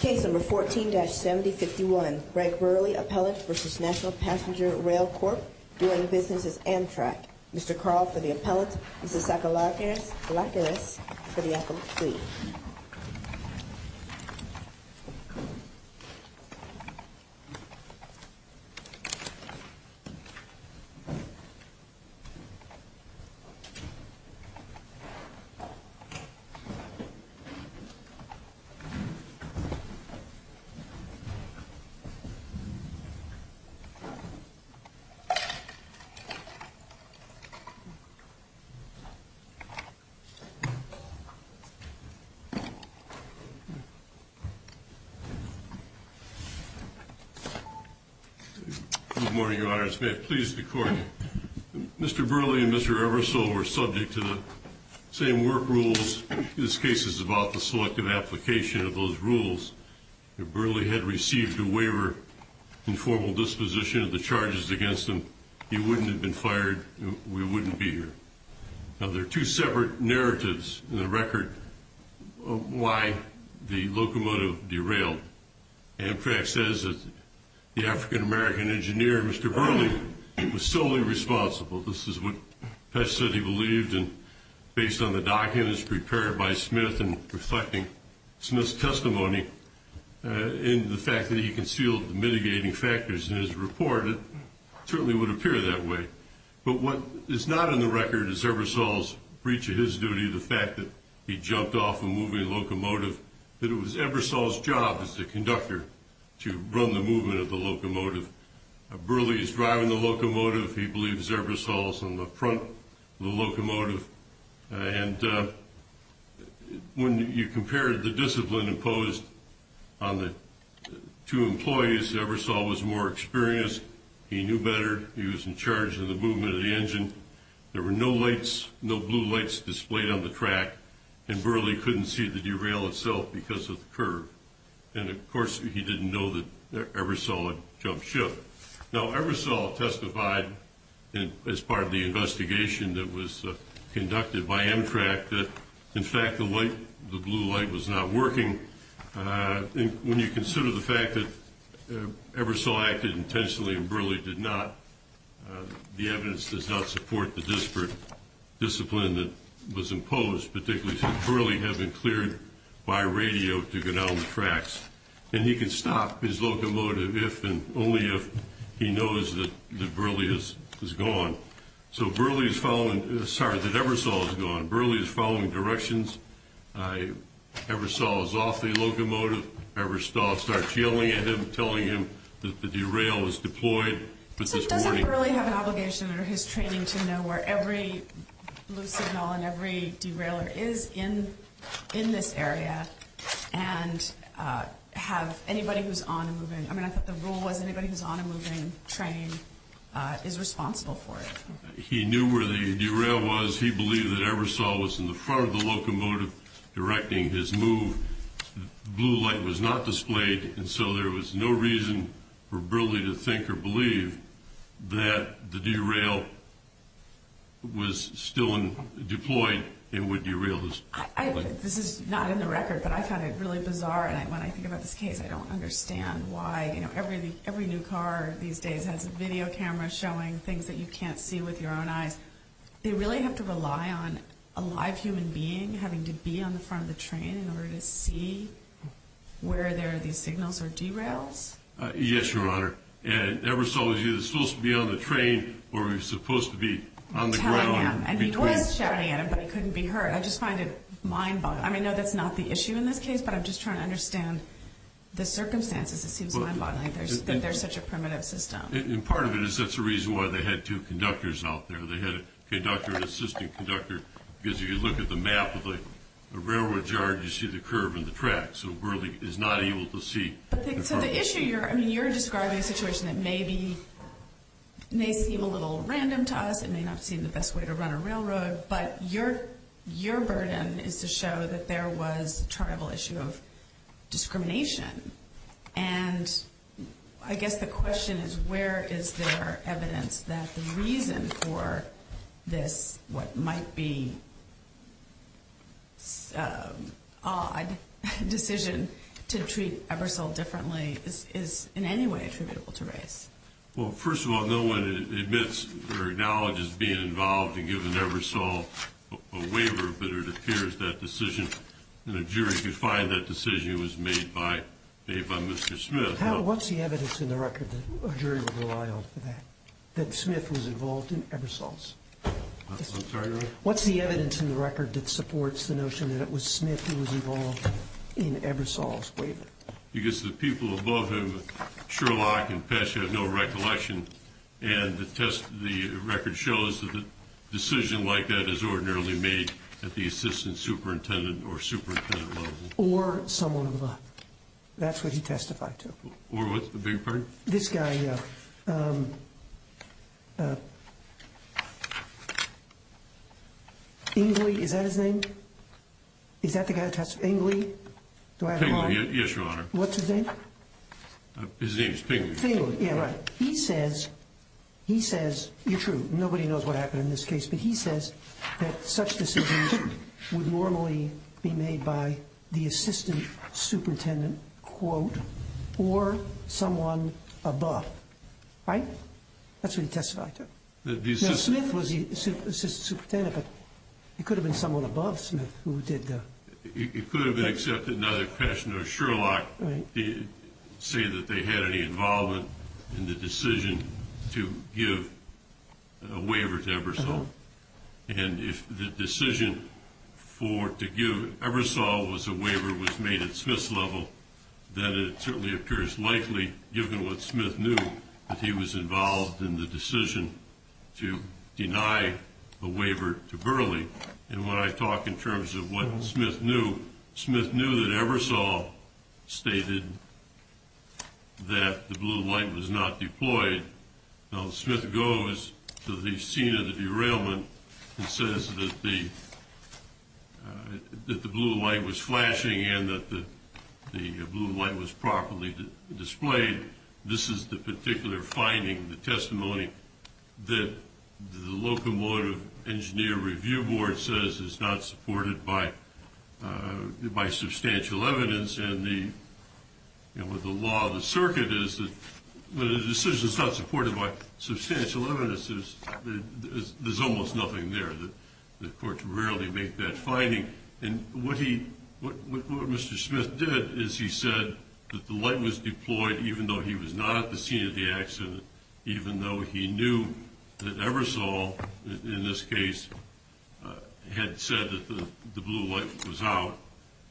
Case number 14-7051, Greg Burley, Appellant, v. National Passenger Rail Corp., doing business as Amtrak. Mr. Carl for the Appellant, Mrs. Sakalakis for the Appellant's plea. Good morning, Your Honors. May it please the Court, Mr. Burley and Mr. Ebersole were subject to the same work rules. This case is about the selective application of those rules. If Burley had received a waiver in formal disposition of the charges against him, he wouldn't have been fired and we wouldn't be here. Now, there are two separate narratives in the record of why the locomotive derailed. Amtrak says that the African-American engineer, Mr. Burley, was solely responsible. This is what Pesce said he believed, and based on the documents prepared by Smith and reflecting Smith's testimony and the fact that he concealed the mitigating factors in his report, it certainly would appear that way. But what is not in the record is Ebersole's breach of his duty, the fact that he jumped off a moving locomotive, that it was Ebersole's job as the conductor to run the movement of the locomotive. Burley is driving the locomotive. He believes Ebersole is on the front of the locomotive. And when you compared the discipline imposed on the two employees, Ebersole was more experienced. He knew better. He was in charge of the movement of the engine. There were no lights, no blue lights displayed on the track, and Burley couldn't see the derail itself because of the curve. And, of course, he didn't know that Ebersole had jumped ship. Now, Ebersole testified as part of the investigation that was conducted by Amtrak that, in fact, the blue light was not working. When you consider the fact that Ebersole acted intentionally and Burley did not, the evidence does not support the disparate discipline that was imposed, particularly since Burley had been cleared by radio to go down the tracks. And he can stop his locomotive if and only if he knows that Burley is gone. So Burley is following – sorry, that Ebersole is gone. Burley is following directions. Ebersole is off the locomotive. Ebersole starts yelling at him, telling him that the derail was deployed. But this morning – So does Burley have an obligation under his training to know where every blue signal and every derailer is in this area and have anybody who's on a moving – I mean, I thought the rule was anybody who's on a moving train is responsible for it. He knew where the derail was. He believed that Ebersole was in the front of the locomotive directing his move. The blue light was not displayed, and so there was no reason for Burley to think or believe that the derail was still deployed and would derail his locomotive. This is not in the record, but I found it really bizarre. And when I think about this case, I don't understand why, you know, every new car these days has video cameras showing things that you can't see with your own eyes. They really have to rely on a live human being having to be on the front of the train in order to see where there are these signals or derails? Yes, Your Honor. And Ebersole was either supposed to be on the train or he was supposed to be on the ground between – Telling him. And he was shouting at him, but he couldn't be heard. I just find it mind-boggling. I mean, no, that's not the issue in this case, but I'm just trying to understand the circumstances. It seems mind-boggling that there's such a primitive system. And part of it is that's the reason why they had two conductors out there. They had conductor and assistant conductor, because if you look at the map of the railroad yard, you see the curve in the track. So Burleigh is not able to see. So the issue you're – I mean, you're describing a situation that may be – may seem a little random to us. It may not seem the best way to run a railroad. But your burden is to show that there was a terrible issue of discrimination. And I guess the question is where is there evidence that the reason for this what might be odd decision to treat Ebersole differently is in any way attributable to race? Well, first of all, no one admits or acknowledges being involved in giving Ebersole a waiver, but it appears that decision – the jury could find that decision was made by Mr. Smith. What's the evidence in the record that a jury would rely on for that, that Smith was involved in Ebersole's? I'm sorry, Your Honor? What's the evidence in the record that supports the notion that it was Smith who was involved in Ebersole's waiver? Because the people above him, Sherlock and Pesce, have no recollection. And the record shows that a decision like that is ordinarily made at the assistant superintendent or superintendent level. Or someone above. That's what he testified to. Or what's the big part? This guy, Ingley, is that his name? Is that the guy who testified? Ingley? Ingley, yes, Your Honor. What's his name? His name is Ingley. Ingley, yeah, right. He says – you're true, nobody knows what happened in this case – but he says that such decisions would normally be made by the assistant superintendent, quote, or someone above. Right? That's what he testified to. The assistant – Now, Smith was the assistant superintendent, but it could have been someone above Smith who did the – It could have been, except another questioner. Sherlock did say that they had any involvement in the decision to give a waiver to Ebersole. And if the decision for – to give Ebersole was a waiver was made at Smith's level, then it certainly occurs likely, given what Smith knew, that he was involved in the decision to deny a waiver to Burleigh. And when I talk in terms of what Smith knew, Smith knew that Ebersole stated that the blue light was not deployed. Now, Smith goes to the scene of the derailment and says that the blue light was flashing and that the blue light was properly displayed. This is the court says is not supported by substantial evidence, and the – you know, the law of the circuit is that when a decision is not supported by substantial evidence, there's almost nothing there. The court can rarely make that finding. And what he – what Mr. Smith did is he said that the light was deployed even though he was not at the scene of the had said that the blue light was out.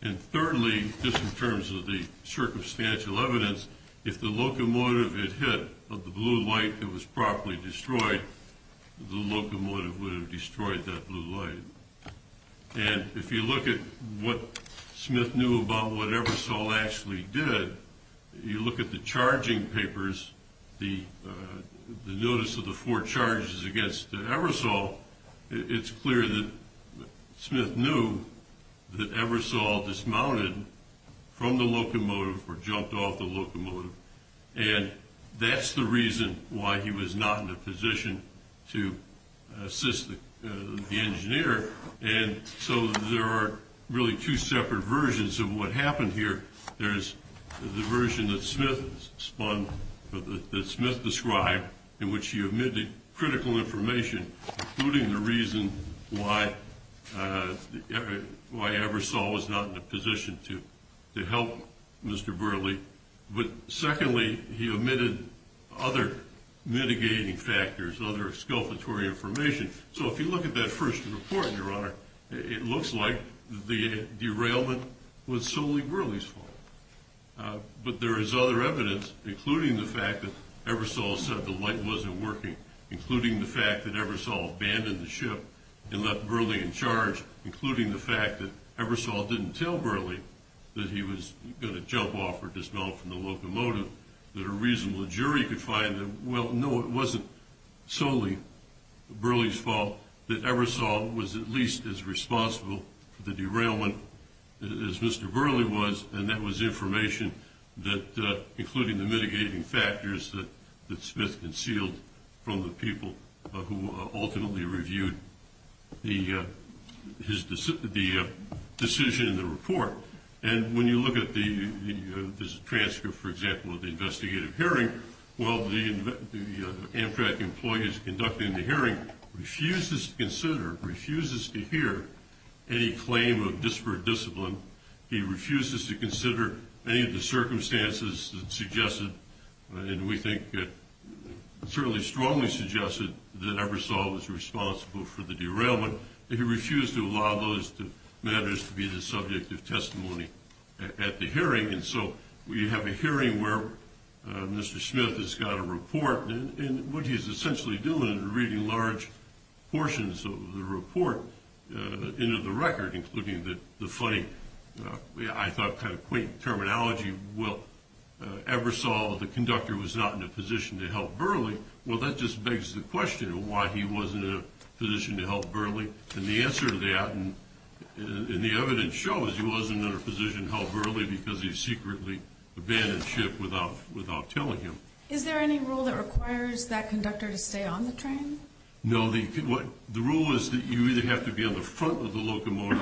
And thirdly, just in terms of the circumstantial evidence, if the locomotive had hit the blue light that was properly destroyed, the locomotive would have destroyed that blue light. And if you look at what Smith knew about what Ebersole actually did, you look at the charging papers, the notice of the four charges against Ebersole, it's clear that Smith knew that Ebersole dismounted from the locomotive or jumped off the locomotive. And that's the reason why he was not in a position to assist the engineer. And so there are really two separate versions of what happened here. There's the version that Smith spun – that Smith described in which he omitted critical information, including the reason why Ebersole was not in a position to help Mr. Burleigh. But secondly, he omitted other mitigating factors, other exculpatory information. So if you look at that first report, Your Honor, it looks like the derailment was solely Burleigh's fault. But there is other evidence, including the fact that Ebersole said the light wasn't working, including the fact that Ebersole abandoned the ship and left Burleigh in charge, including the fact that Ebersole didn't tell Burleigh that he was going to jump off or dismount from the locomotive, that a reasonable jury could find that, well, no, it wasn't solely Burleigh's fault that Ebersole was at least as responsible for the derailment as Mr. Burleigh was, and that was information that, including the mitigating factors that Smith concealed from the people who ultimately reviewed the decision in the report. And when you look at the transcript, for example, of the investigative hearing, well, the Amtrak employees conducting the hearing refuses to consider, refuses to hear any claim of disparate discipline. He refuses to consider any of the circumstances that suggested, and we think certainly strongly suggested, that Ebersole was responsible for the derailment. He refused to allow those matters to be the subject of testimony at the hearing. And so you have a hearing where Mr. Smith has got a report, and what he's essentially doing is reading large portions of the report into the record, including the funny, I thought kind of quaint terminology, well, Ebersole, the conductor, was not in a position to help Burleigh. Well, that just begs the question of why he wasn't in a position to help Burleigh. And the answer to that, and the evidence shows, he wasn't in a position to help Burleigh because he secretly abandoned ship without telling him. Is there any rule that requires that conductor to stay on the train? No, the rule is that you either have to be on the front of the locomotive,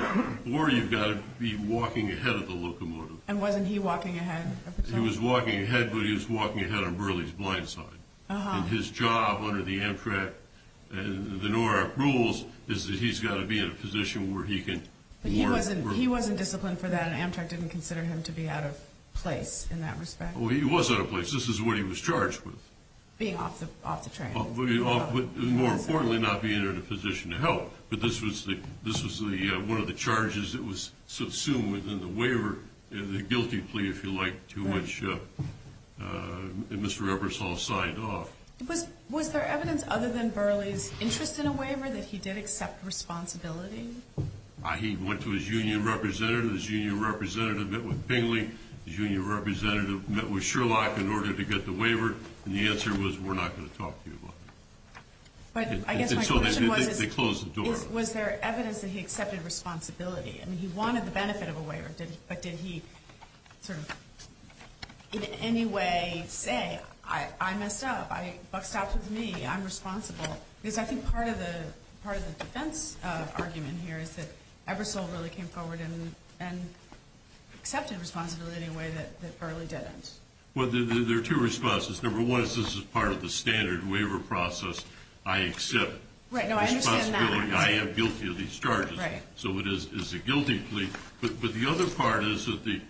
or you've got to be walking ahead of the locomotive. And wasn't he walking ahead of Burleigh? He was walking ahead, but he was walking ahead on Burleigh's blind side. And his job under the Amtrak, the NORAC rules, is that he's got to be in a position where he can work He wasn't disciplined for that, and Amtrak didn't consider him to be out of place in that respect. Well, he was out of place. This is what he was charged with. Being off the train. More importantly, not being in a position to help. But this was one of the charges that was assumed within the waiver, the guilty plea, if you like, to which Mr. Ebersole signed off. Was there evidence other than Burleigh's interest in a waiver that he did accept responsibility? He went to his union representative, his union representative met with Bingley, his union representative met with Sherlock in order to get the waiver, and the answer was, we're not going to talk to you about that. But I guess my question was, was there evidence that he accepted responsibility? I mean, he wanted the benefit of a waiver, but did he sort of in any way say, I messed up, Buck stopped with me, I'm responsible? Because I think part of the defense argument here is that Ebersole really came forward and accepted responsibility in a way that Burleigh didn't. Well, there are two responses. Number one is this is part of the standard waiver process. I accept responsibility. I am guilty of these charges. So it is a guilty plea. But the other part is that the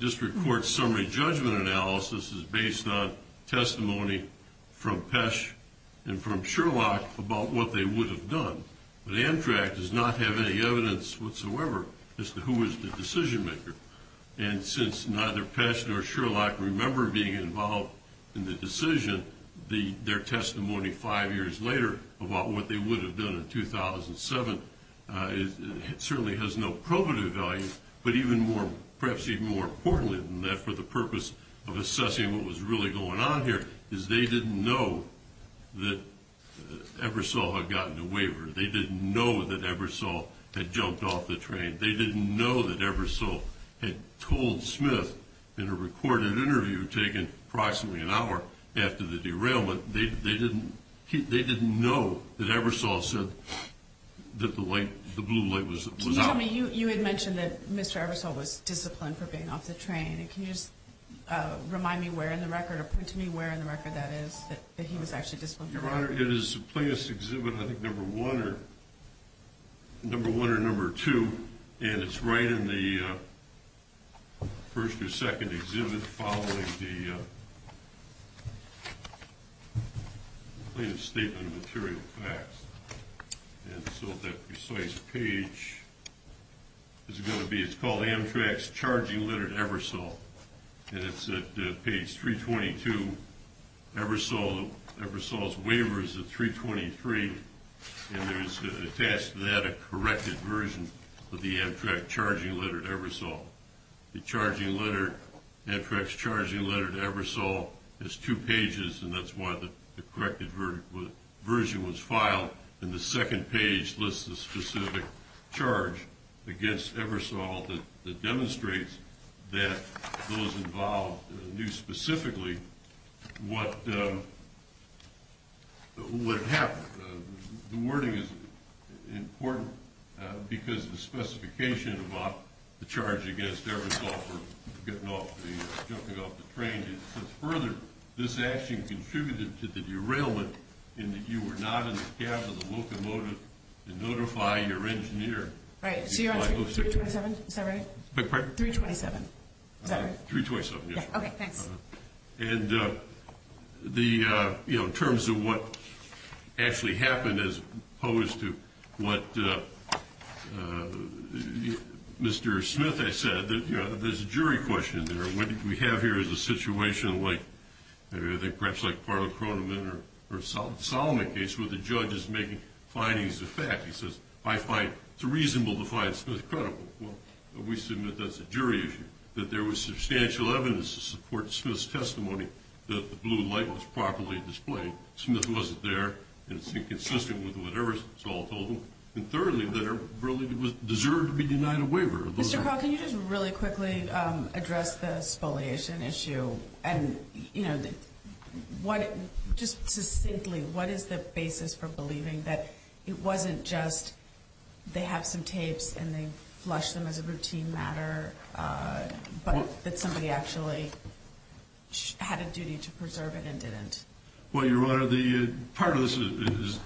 district court summary judgment analysis is based on testimony from Pesch and from Sherlock about what they would have done. But Amtrak does not have any evidence whatsoever as to who is the decision maker. And since neither Pesch nor Sherlock remember being involved in the decision, their testimony five years later about what they would have done in 2007 certainly has no probative value. But perhaps even more importantly than that for the purpose of assessing what was really going on here is they didn't know that Ebersole had gotten a waiver. They didn't know that Ebersole had jumped off the train. They didn't know that Ebersole had told Smith in a recorded interview taken approximately an hour after the derailment, they didn't know that Ebersole said that the blue light was out. Can you tell me, you had mentioned that Mr. Ebersole was disciplined for being off the train. Can you just remind me where in the record or point to me where in the record that is that he was actually disciplined for being off the train? Your Honor, it is plaintiff's exhibit, I think, number one or number two. And it's right in the first or second exhibit following the plaintiff's statement of material facts. And so that precise page is going to be, it's called Amtrak's charging letter to Ebersole. And it's at page 322, Ebersole's waiver is at 323, and there is attached to that a corrected version of the Amtrak charging letter to Ebersole. The charging letter, Amtrak's charging letter to Ebersole is two pages, and that's why the corrected version was filed. And the second page lists the specific charge against Ebersole that demonstrates that those involved knew specifically what happened. The wording is important because the specification about the charge against Ebersole for jumping off the train says further, this action contributed to the derailment in that you were not in the cab of the locomotive to notify your engineer. Right, so you're on 327, is that right? Beg your pardon? 327, is that right? 327, yes. Okay, thanks. And the, you know, in terms of what actually happened as opposed to what Mr. Smith has said, you know, there's a jury question there. What we have here is a situation like, I think perhaps like Parliament or Solomon case where the judge is making findings of fact. He says I find it's reasonable to find Smith credible. Well, we submit that's a jury issue, that there was substantial evidence to support Smith's testimony that the blue light was properly displayed. Smith wasn't there and it's inconsistent with whatever was told to him. And thirdly, that it really deserved to be denied a waiver. Mr. Paul, can you just really quickly address the spoliation issue? And, you know, just succinctly, what is the basis for believing that it wasn't just they have some tapes and they flush them as a routine matter, but that somebody actually had a duty to preserve it and didn't? Well, Your Honor, part of this is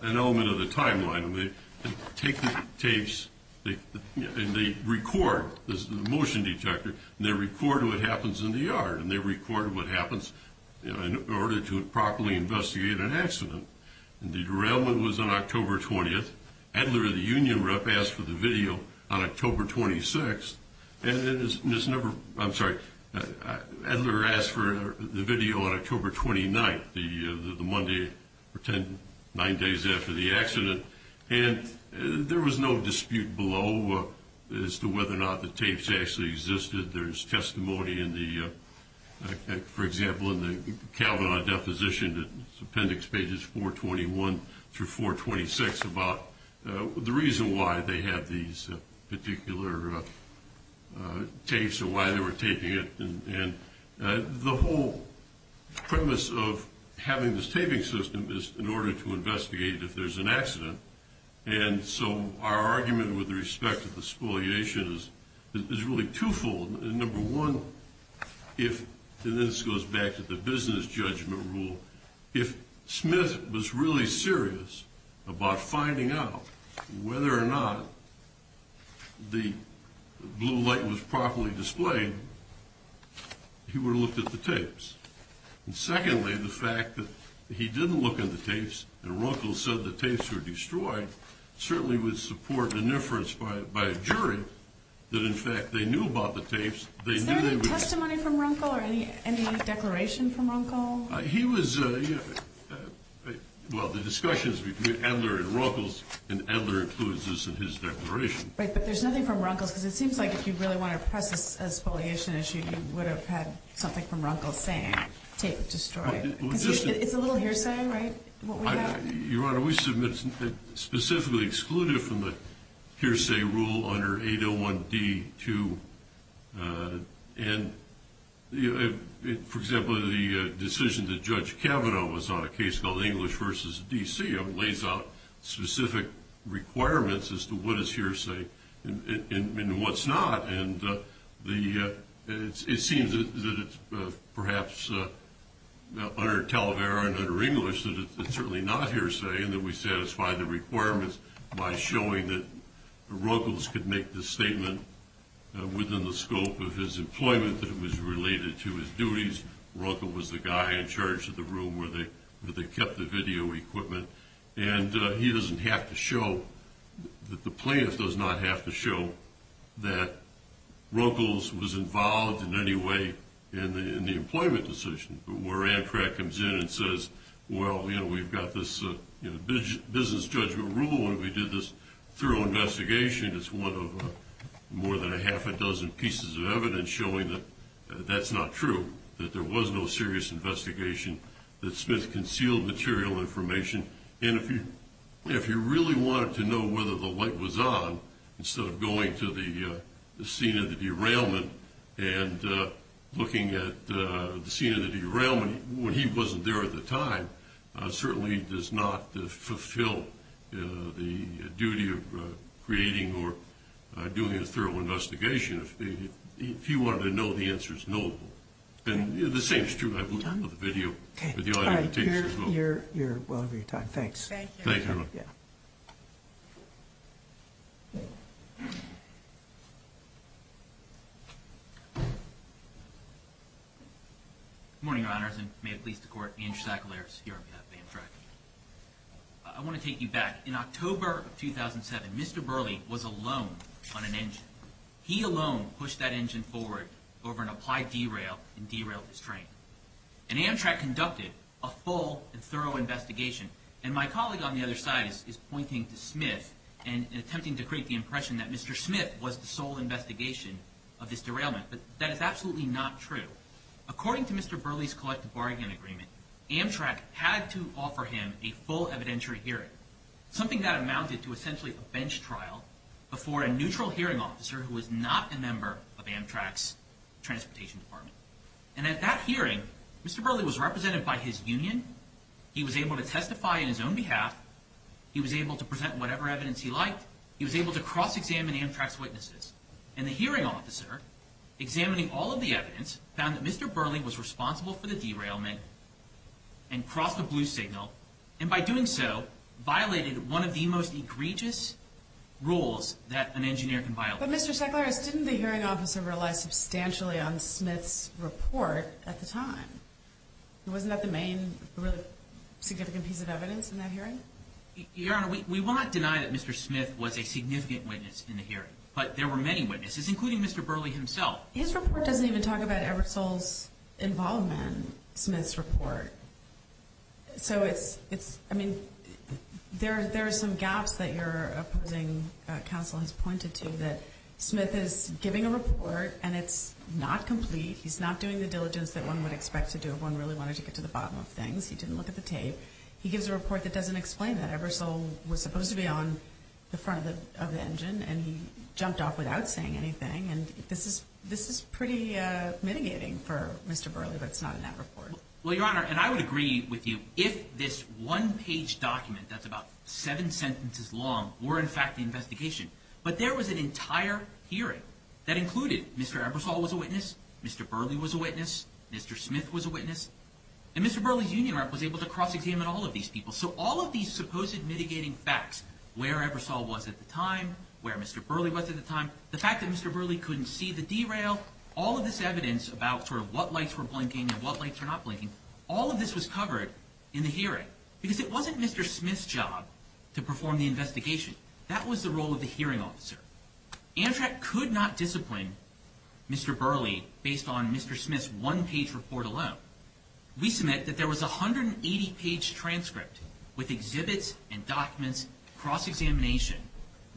an element of the timeline. I mean, they take the tapes and they record, this is a motion detector, and they record what happens in the yard and they record what happens in order to properly investigate an accident. And the derailment was on October 20th. Adler, the union rep, asked for the video on October 26th. And it's never, I'm sorry, Adler asked for the video on October 29th, the Monday, or nine days after the accident. And there was no dispute below as to whether or not the tapes actually existed. There's testimony in the, for example, in the Kavanaugh deposition, it's appendix pages 421 through 426, about the reason why they had these particular tapes and why they were taping it. And the whole premise of having this taping system is in order to investigate if there's an accident. And so our argument with respect to the spoliation is really twofold. Number one, if, and this goes back to the business judgment rule, if Smith was really serious about finding out whether or not the blue light was properly displayed, he would have looked at the tapes. And secondly, the fact that he didn't look at the tapes and Runkle said the tapes were destroyed certainly would support the inference by a jury that in fact they knew about Runkle. He was, well, the discussions between Adler and Runkle, and Adler includes this in his declaration. Right, but there's nothing from Runkle's, because it seems like if you really want to press this as a spoliation issue, you would have had something from Runkle saying, tape destroyed. It's a little hearsay, right? Your Honor, we submit specifically excluded from the hearsay rule under 801D2. And for example, the decision that Judge Kavanaugh was on a case called English versus D.C. lays out specific requirements as to what is hearsay and what's not. And it seems that it's perhaps under Talavera and under English that it's certainly not hearsay and that we satisfy the requirements by showing that Runkle could make this statement within the scope of his employment that it was related to his duties. Runkle was the guy in charge of the room where they kept the video equipment. And he doesn't have to show, the plaintiff does not have to show that Runkle was involved in any way in the employment decision. But where Amtrak comes in and says, well, you know, we've got this business judgment rule and we did this thorough investigation, it's one of more than a half a dozen pieces of evidence showing that that's not true, that there was no serious investigation, that Smith really wanted to know whether the light was on instead of going to the scene of the derailment and looking at the scene of the derailment when he wasn't there at the time certainly does not fulfill the duty of creating or doing a thorough investigation. If he wanted to know, the answer is no. And the same is true, I believe, of the video. You're well over your time. Thanks. Thank you. Good morning, Your Honors, and may it please the Court, Andrew Sackler here of Amtrak. I want to take you back. In October of 2007, Mr. Burleigh was alone on an engine. He alone pushed that engine forward over an applied derail and derailed his train. And Amtrak conducted a full and thorough investigation. And my colleague on the other side is pointing to Smith and attempting to create the impression that Mr. Smith was the sole investigation of this derailment. But that is absolutely not true. According to Mr. Burleigh's collective bargaining agreement, Amtrak had to offer him a full evidentiary hearing, something that Amtrak's transportation department. And at that hearing, Mr. Burleigh was represented by his union. He was able to testify on his own behalf. He was able to present whatever evidence he liked. He was able to cross-examine Amtrak's witnesses. And the hearing officer, examining all of the evidence, found that Mr. Burleigh was responsible for the derailment and crossed the blue signal, and by doing so, violated one of the most egregious rules that an engineer can violate. But Mr. Secularis, didn't the hearing officer rely substantially on Smith's report at the time? Wasn't that the main, really significant piece of evidence in that hearing? Your Honor, we will not deny that Mr. Smith was a significant witness in the hearing. But there were many witnesses, including Mr. Burleigh himself. His report doesn't even talk about Ebersole's involvement in Smith's report. So it's, I mean, there are some gaps that your opposing counsel has pointed to, that Smith is giving a report, and it's not complete. He's not doing the diligence that one would expect to do if one really wanted to get to the bottom of things. He didn't look at the tape. He gives a report that doesn't explain that. Ebersole was supposed to be on the front of the engine, and he jumped off without saying anything. And this is pretty mitigating for Mr. Burleigh, but it's not in that report. Well, your Honor, and I would agree with you if this one-page document that's about seven sentences long were in fact the investigation. But there was an entire hearing that included Mr. Ebersole was a witness, Mr. Burleigh was a witness, Mr. Smith was a witness, and Mr. Burleigh's union rep was able to cross-examine all of these people. So all of these supposed mitigating facts, where Ebersole was at the time, where Mr. Burleigh was at the time, the fact that Mr. Burleigh couldn't see the derail, all of this evidence about sort of what lights were blinking and what lights were not blinking, all of this was covered in the hearing. Because it wasn't Mr. Smith's job to perform the investigation. That was the role of the hearing officer. Amtrak could not discipline Mr. Burleigh based on Mr. Smith's one-page report alone. We submit that there was a 180-page transcript with exhibits and documents, cross-examination.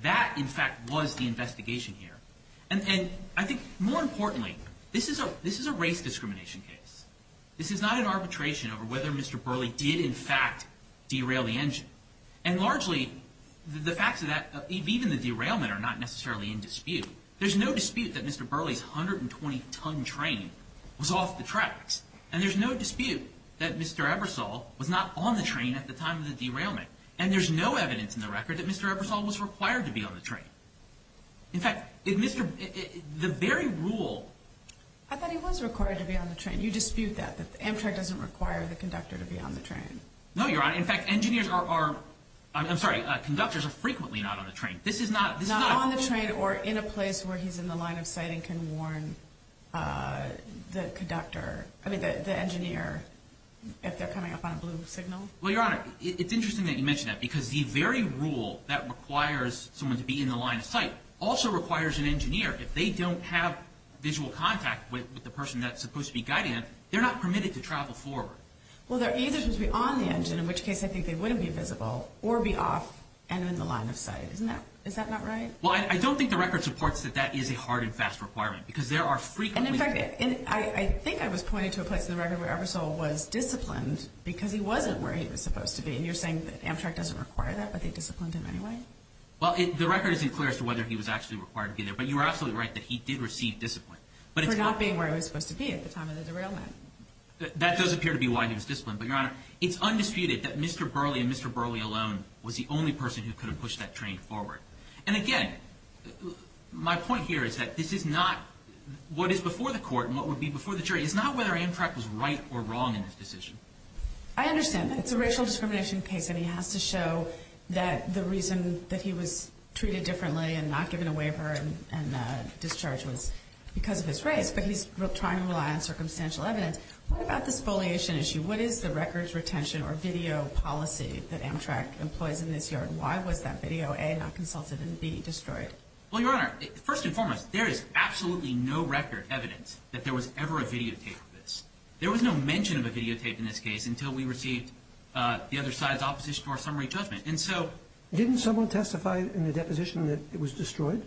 That, in fact, was the investigation here. And I think more importantly, this is a race discrimination case. This is not an arbitration over whether Mr. Burleigh did in fact derail the engine. And largely, the facts of that, even the derailment, are not necessarily in dispute. There's no dispute that Mr. Burleigh's 120-ton train was off the tracks. And there's no dispute that Mr. Ebersole was not on the train at the time of the derailment. And there's no evidence in the record that Mr. Ebersole was required to be on the train. In fact, the very rule... I thought he was required to be on the train. You dispute that, that Amtrak doesn't require the conductor to be on the train. No, Your Honor. In fact, engineers are... I'm sorry, conductors are frequently not on the train. This is not... Not on the train or in a place where he's in the line of sight and can warn the engineer if they're coming up on a blue signal. Well, Your Honor, it's interesting that you mention that because the very rule that requires someone to be in the line of sight also requires an engineer. If they don't have visual contact with the person that's supposed to be guiding them, they're not permitted to travel forward. Well, they're either supposed to be on the engine, in which case I think they wouldn't be visible, or be off and in the line of sight. Isn't that... Is that not right? Well, I don't think the record supports that that is a hard and fast requirement because there are frequently... And in fact, I think I was pointing to a place in the record where Ebersole was disciplined because he wasn't where he was supposed to be. And you're saying that Amtrak doesn't require that, but they disciplined him anyway? Well, the record isn't clear as to whether he was actually required to be there, but you are absolutely right that he did receive discipline, but it's... For not being where he was supposed to be at the time of the derailment. That does appear to be why he was disciplined, but, Your Honor, it's undisputed that Mr. Burley and Mr. Burley alone was the only person who could have pushed that train forward. And again, my point here is that this is not... What is before the court and what would be before the jury is not whether Amtrak was right or wrong in this decision. I understand that. It's a racial discrimination case and he has to show that the reason that he was treated differently and not given a waiver and discharge was because of his race, but he's trying to rely on circumstantial evidence. What about this foliation issue? What is the records retention or video policy that Amtrak employs in this yard? Why was that video, A, not consulted and, B, destroyed? Well, Your Honor, first and foremost, there is absolutely no record evidence that there was ever a videotape of this. There was no mention of a videotape in this case until we received the other side's opposition to our summary judgment. And so... Didn't someone testify in the deposition that it was destroyed?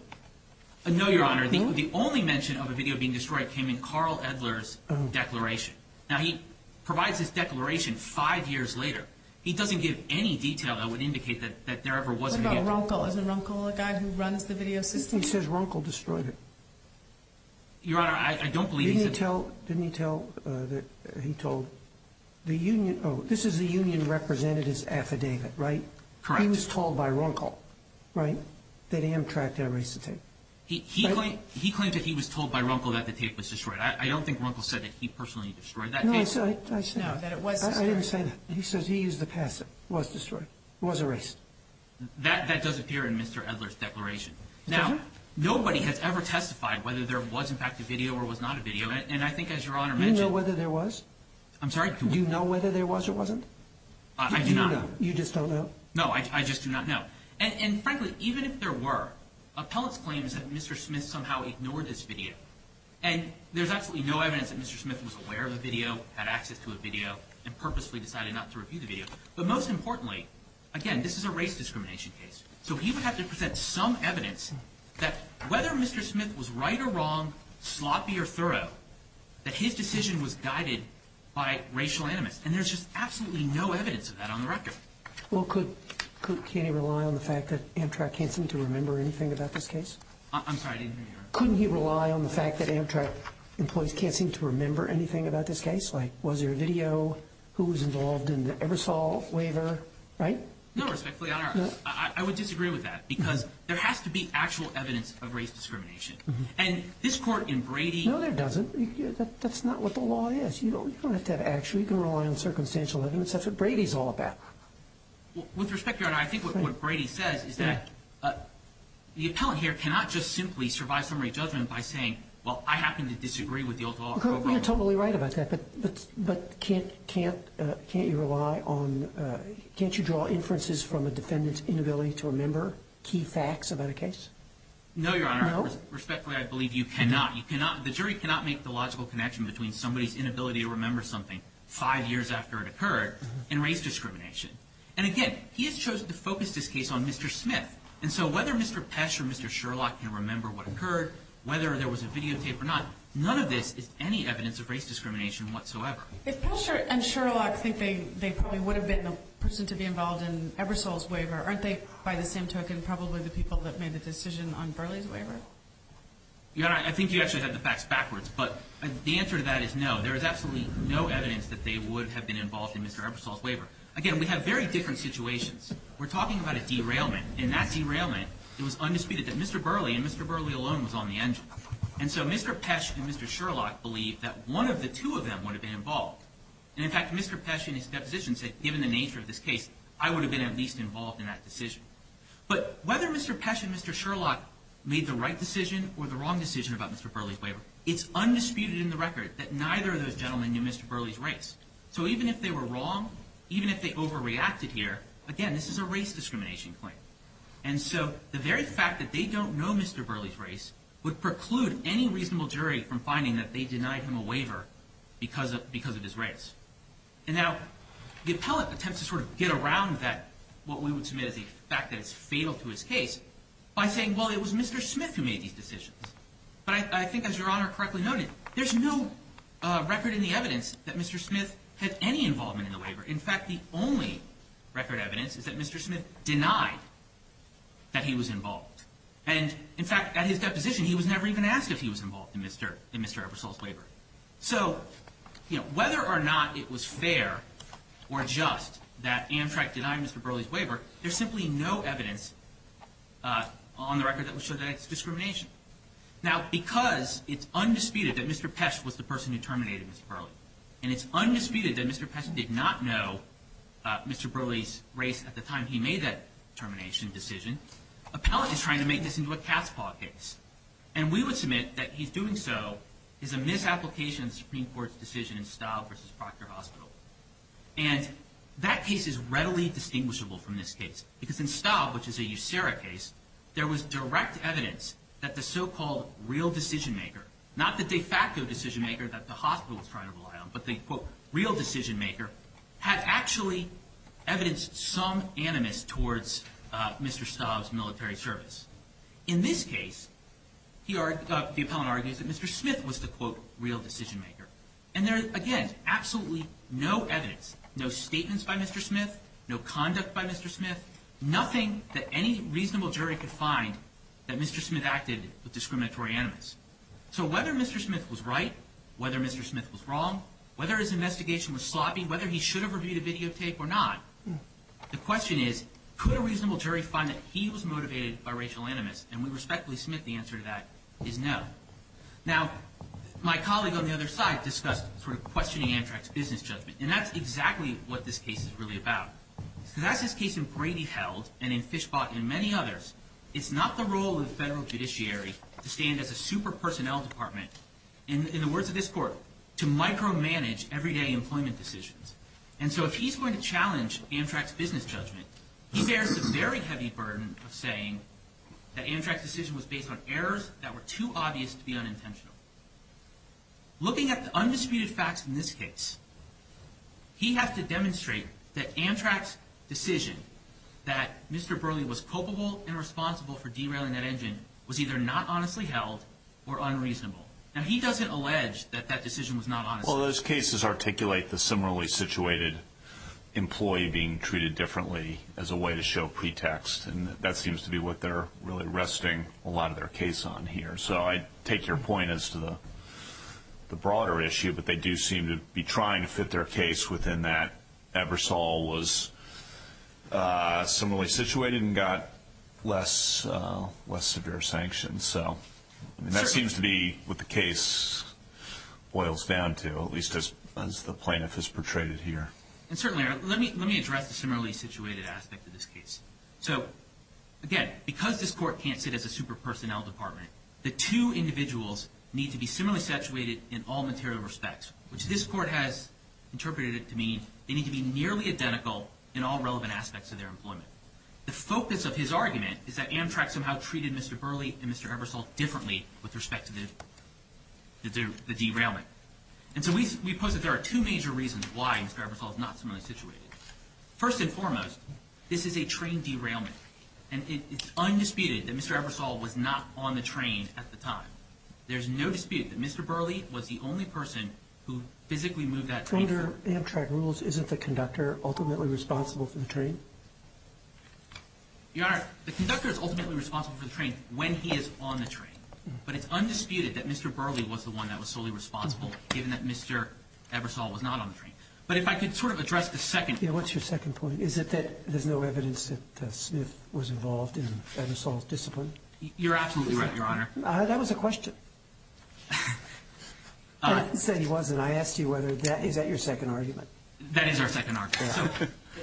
No, Your Honor. The only mention of a video being destroyed came in Carl Edler's declaration. Now, he provides his declaration five years later. He doesn't give any detail that would indicate that there ever was a video. What about Ronkel? Isn't Ronkel a guy who runs the video system? He says Ronkel destroyed it. Your Honor, I don't believe he said... Didn't he tell that he told the union... Oh, this is the union representative's affidavit, right? Correct. He was told by Ronkel, right, that Amtrak had erased the tape. He claimed that he was told by Ronkel that the tape was destroyed. I don't think Ronkel said that he personally destroyed that tape. No, I said... No, that it was destroyed. I didn't say that. He says he used the passive. It was destroyed. It was erased. That does appear in Mr. Edler's declaration. Now, nobody has ever testified whether there was, in fact, a video or was not a video. And I think, as Your Honor mentioned... Do you know whether there was? I'm sorry? Do you know whether there was or wasn't? I do not. Do you know? You just don't know? No, I just do not know. And, frankly, even if there were, Appellate's claim is that Mr. Smith somehow ignored this video. And there's absolutely no evidence that Mr. Smith was aware of the video, had access to a video, and purposefully decided not to review the So he would have to present some evidence that, whether Mr. Smith was right or wrong, sloppy or thorough, that his decision was guided by racial animus. And there's just absolutely no evidence of that on the record. Well, could he rely on the fact that Amtrak can't seem to remember anything about this case? I'm sorry, I didn't hear you, Your Honor. Couldn't he rely on the fact that Amtrak employees can't seem to remember anything about this case? Like, was there a video? Who was involved in the Ebersol waiver? Right? No, respectfully, Your Honor. I would disagree with that. Because there has to be actual evidence of race discrimination. And this Court in Brady... No, there doesn't. That's not what the law is. You don't have to have action. You can rely on circumstantial evidence. That's what Brady's all about. With respect, Your Honor, I think what Brady says is that the Appellant here cannot just simply survive summary judgment by saying, well, I happen to disagree with the old law of pro bono. Well, you're totally right about that. But can't you draw inferences from a defendant's inability to remember key facts about a case? No, Your Honor. No? Respectfully, I believe you cannot. The jury cannot make the logical connection between somebody's inability to remember something five years after it occurred and race discrimination. And again, he has chosen to focus this case on Mr. Smith. And so whether Mr. Pesch or Mr. Sherlock can remember what occurred, whether there was a videotape or not, none of this is any evidence of race discrimination whatsoever. If Pesch and Sherlock think they probably would have been the person to be involved in Ebersole's waiver, aren't they, by the same token, probably the people that made the decision on Burley's waiver? Your Honor, I think you actually have the facts backwards. But the answer to that is no. There is absolutely no evidence that they would have been involved in Mr. Ebersole's waiver. Again, we have very different situations. We're talking about a derailment. In that derailment, it was undisputed that Mr. Burley and Mr. Burley alone was on the waiver. Mr. Pesch and Mr. Sherlock believe that one of the two of them would have been involved. And in fact, Mr. Pesch in his deposition said, given the nature of this case, I would have been at least involved in that decision. But whether Mr. Pesch and Mr. Sherlock made the right decision or the wrong decision about Mr. Burley's waiver, it's undisputed in the record that neither of those gentlemen knew Mr. Burley's race. So even if they were wrong, even if they overreacted here, again, this is a race discrimination claim. And so the very fact that they don't know Mr. Burley's race would preclude any reasonable jury from finding that they denied him a waiver because of his race. And now, the appellate attempts to sort of get around that, what we would submit as the fact that it's fatal to his case, by saying, well, it was Mr. Smith who made these decisions. But I think, as Your Honor correctly noted, there's no record in the evidence that Mr. Smith had any involvement in the waiver. In fact, the only record evidence is that Mr. Smith denied that he was involved. And in fact, at his deposition, he was never even asked if he was involved in Mr. Ebersole's waiver. So, you know, whether or not it was fair or just that Amtrak denied Mr. Burley's waiver, there's simply no evidence on the record that would show that it's discrimination. Now, because it's undisputed that Mr. Pesch was the person who terminated Mr. Burley, and it's undisputed that Mr. Pesch did not know Mr. Burley's race at the time he made that termination decision, appellate is trying to make this into a cat's paw case. And we would submit that his doing so is a misapplication of the Supreme Court's decision in Staub v. Proctor Hospital. And that case is readily distinguishable from this case, because in Staub, which is a USERRA case, there was direct evidence that the so-called real decision maker, not the de facto decision maker that the hospital was trying to rely on, but the, quote, real decision maker, had actually evidenced some animus towards Mr. Staub's military service. In this case, the appellant argues that Mr. Smith was the, quote, real decision maker. And there is, again, absolutely no evidence, no statements by Mr. Smith, no conduct by Mr. Smith, nothing that any reasonable jury could find that Mr. Smith was the motivatory animus. So whether Mr. Smith was right, whether Mr. Smith was wrong, whether his investigation was sloppy, whether he should have reviewed a videotape or not, the question is, could a reasonable jury find that he was motivated by racial animus? And we respectfully submit the answer to that is no. Now, my colleague on the other side discussed sort of questioning Amtrak's business judgment. And that's exactly what this case is really about. Because as this case in Brady held and in Fischbach and many others, it's not the federal judiciary to stand as a super personnel department, in the words of this court, to micromanage everyday employment decisions. And so if he's going to challenge Amtrak's business judgment, he bears the very heavy burden of saying that Amtrak's decision was based on errors that were too obvious to be unintentional. Looking at the undisputed facts in this case, he has to demonstrate that Amtrak's decision that Mr. Burleigh was responsible for derailing that engine was either not honestly held or unreasonable. Now, he doesn't allege that that decision was not honest. Well, those cases articulate the similarly situated employee being treated differently as a way to show pretext. And that seems to be what they're really resting a lot of their case on here. So I take your point as to the broader issue, but they do seem to be trying to fit their case within that Ebersole was similarly situated and got less severe sanctions. So that seems to be what the case boils down to, at least as the plaintiff has portrayed it here. And certainly, let me address the similarly situated aspect of this case. So, again, because this court can't sit as a super personnel department, the two individuals need to be similarly situated in all material respects, which this court has interpreted to mean they need to be nearly identical in all relevant aspects of their employment. The focus of his argument is that Amtrak somehow treated Mr. Burleigh and Mr. Ebersole differently with respect to the derailment. And so we pose that there are two major reasons why Mr. Ebersole is not similarly situated. First and foremost, this is a train derailment. And it's undisputed that Mr. Ebersole was not on the train at the time. There's no dispute that Mr. Burleigh was the only person who physically moved that train. If under Amtrak rules, isn't the conductor ultimately responsible for the train? Your Honor, the conductor is ultimately responsible for the train when he is on the train. But it's undisputed that Mr. Burleigh was the one that was solely responsible given that Mr. Ebersole was not on the train. But if I could sort of address the second point. Yeah, what's your second point? Is it that there's no evidence that Smith was involved in Ebersole's discipline? You're absolutely right, Your Honor. That was a question. I didn't say he wasn't. I asked you whether that is your second argument. That is our second argument. So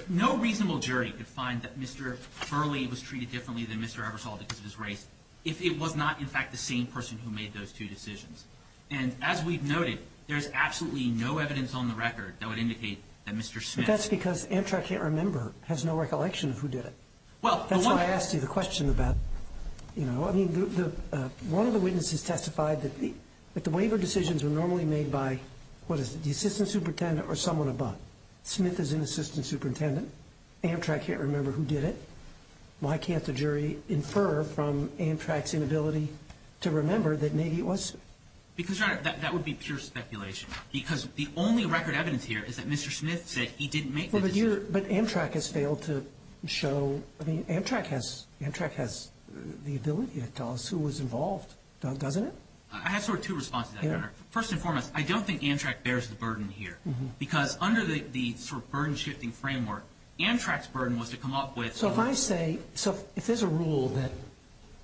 no reasonable jury could find that Mr. Burleigh was treated differently than Mr. Ebersole because of his race if it was not, in fact, the same person who made those two decisions. And as we've noted, there's absolutely no evidence on the record that would indicate that Mr. Smith But that's because Amtrak can't remember, has no recollection of who did it. Well, the one That's why I asked you the question about, you know, I mean, one of the witnesses testified that the waiver decisions were normally made by, what is it? The assistant superintendent or someone above. Smith is an assistant superintendent. Amtrak can't remember who did it. Why can't the jury infer from Amtrak's inability to remember that maybe it was? Because, Your Honor, that would be pure speculation. Because the only record evidence here is that Mr. Smith said he didn't make the decision. But Amtrak has failed to show, I mean, Amtrak has Amtrak has the ability to tell us who was involved. Doesn't it? I have sort of two responses to that, Your Honor. First and foremost, I don't think Amtrak bears the burden here. Because under the sort of burden-shifting framework, Amtrak's burden was to come up with So if I say, so if there's a rule that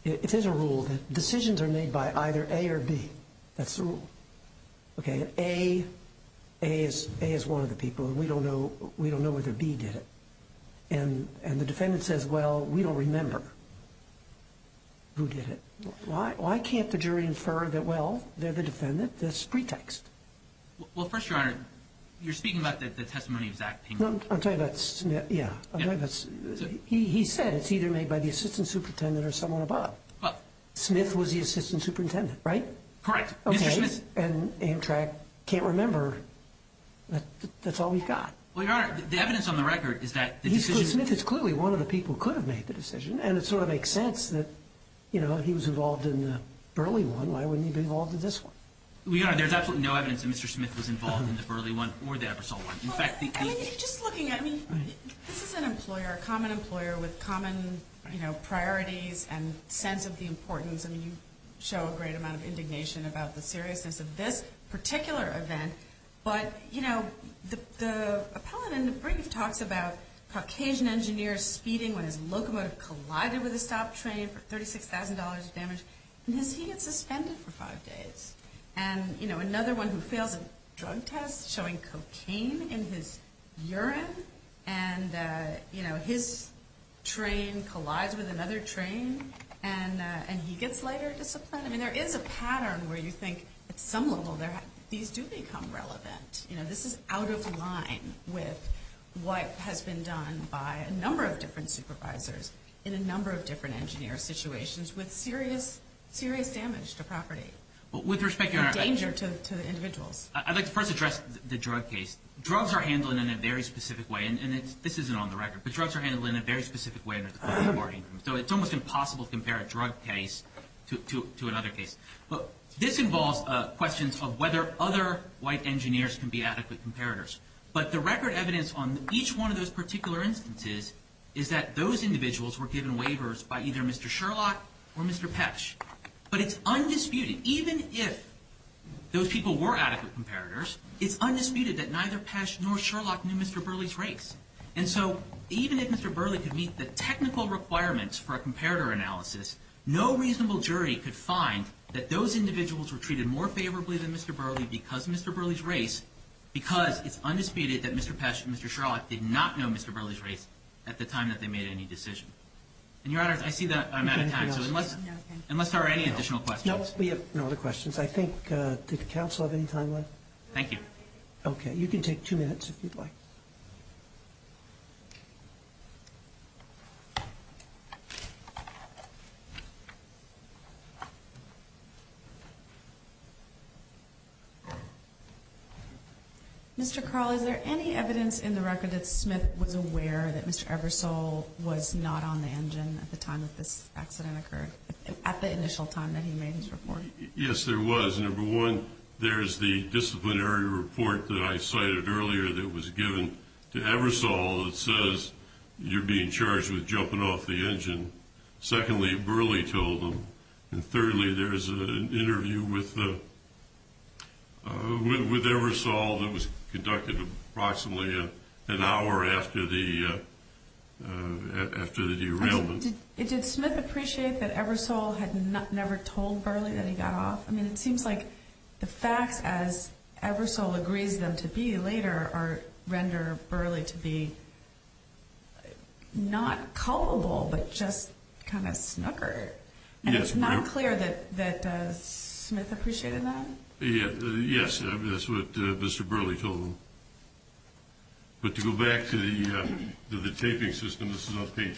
If there's a rule that decisions are made by either A or B, that's the rule. Okay, and A, A is one of the people, and we don't know whether B did it. And the defendant says, well, we don't remember who did it. Why can't the jury infer that, well, they're the defendant? That's pretext. Well, first, Your Honor, you're speaking about the testimony of Zach Pink. I'm talking about Smith, yeah. He said it's either made by the assistant superintendent or someone above. Smith was the assistant superintendent, right? Correct. Mr. Smith Okay, and Amtrak can't remember. That's all we've got. Well, Your Honor, the evidence on the record is that the decision Mr. Smith is clearly one of the people who could have made the decision, and it sort of makes sense that, you know, he was involved in the Burley one. Why wouldn't he be involved in this one? Well, Your Honor, there's absolutely no evidence that Mr. Smith was involved in the Burley one or the Ebersole one. Well, I think, I mean, just looking at, I mean, this is an employer, a common employer with common, you know, priorities and sense of the importance. I mean, you show a great amount of indignation about the seriousness of this particular event, but, you know, the appellant in the brief talks about Caucasian engineers speeding when his locomotive collided with a stop train for $36,000 of damage, and he gets suspended for five days. And, you know, another one who fails a drug test showing cocaine in his urine, and, you know, his train collides with another train, and he gets later disciplined. I mean, there is a pattern where you think at some level these do become relevant. You know, this is out of line with what has been done by a number of different supervisors in a number of different engineer situations with serious damage to property. With respect, Your Honor. And danger to the individuals. I'd like to first address the drug case. Drugs are handled in a very specific way, and this isn't on the record, but drugs are handled in a very specific way under the court of warning. So it's almost impossible to compare a drug case to another case. This involves questions of whether other white engineers can be adequate comparators. But the record evidence on each one of those particular instances is that those individuals were given waivers by either Mr. Sherlock or Mr. Petsch. But it's undisputed, even if those people were adequate comparators, it's undisputed that neither Petsch nor Sherlock knew Mr. Burley's race. And so even if Mr. Burley could meet the technical requirements for a comparator analysis, no reasonable jury could find that those individuals were treated more favorably than Mr. Burley because of Mr. Burley's race, because it's undisputed that Mr. Petsch and Mr. Sherlock did not know Mr. Burley's race at the time that they made any decision. And, Your Honor, I see that I'm out of time. So unless there are any additional questions. No, we have no other questions. I think, did the counsel have any time left? Thank you. Okay, you can take two minutes if you'd like. Mr. Carl, is there any evidence in the record that Smith was aware that Mr. Ebersole was not on the engine at the time that this accident occurred, at the initial time that he made his report? Yes, there was. Number one, there's the disciplinary report that I cited earlier that was given to Ebersole that says you're being charged with jumping off the engine. Secondly, Burley told him. And thirdly, there's an interview with Ebersole that was conducted approximately an hour after the derailment. Did Smith appreciate that Ebersole had never told Burley that he got off? I mean, it seems like the facts, as Ebersole agrees them to be later, render Burley to be not culpable but just kind of snooker. And it's not clear that Smith appreciated that? Yes, that's what Mr. Burley told him. But to go back to the taping system, this is on page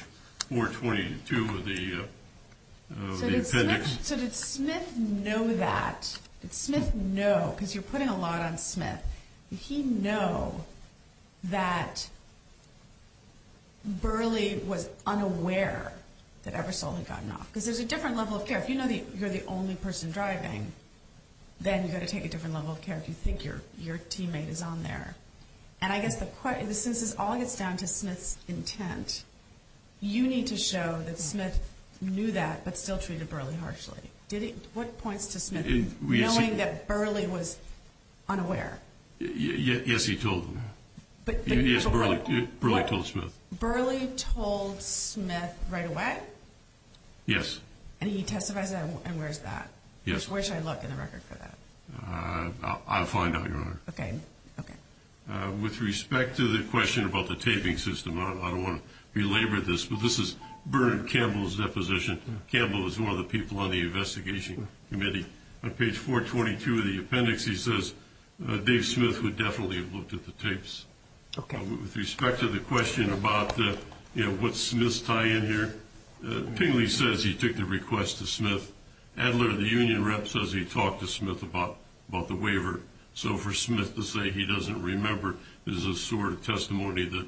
422 of the appendix. So did Smith know that? Did Smith know, because you're putting a lot on Smith, did he know that Burley was unaware that Ebersole had gotten off? Because there's a different level of care. If you know that you're the only person driving, then you've got to take a different level of care if you think your teammate is on there. And I guess since this all gets down to Smith's intent, you need to show that Smith knew that but still treated Burley harshly. What points to Smith knowing that Burley was unaware? Yes, he told him. Yes, Burley told Smith. Burley told Smith right away? Yes. And he testified and where's that? Where should I look in the record for that? I'll find out, Your Honor. Okay. With respect to the question about the taping system, I don't want to belabor this, but this is Bernard Campbell's deposition. Campbell is one of the people on the investigation committee. On page 422 of the appendix, he says Dave Smith would definitely have looked at the tapes. Okay. With respect to the question about what's Smith's tie in here, Tingley says he took the request to Smith. Adler, the union rep, says he talked to Smith about the waiver. So for Smith to say he doesn't remember is a sort of testimony that,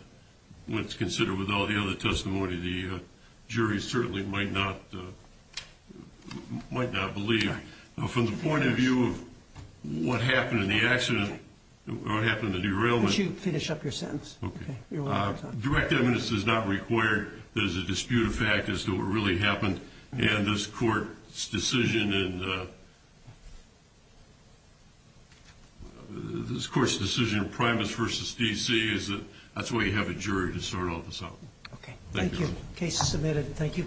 when it's considered with all the other testimony, the jury certainly might not believe. Now, from the point of view of what happened in the accident or what happened in the derailment... Could you finish up your sentence? Okay. Direct evidence is not required. There's a disputed fact as to what really happened. And this court's decision in Primus v. D.C. is that that's why you have a jury to sort all this out. Okay. Thank you. Case submitted. Thank you.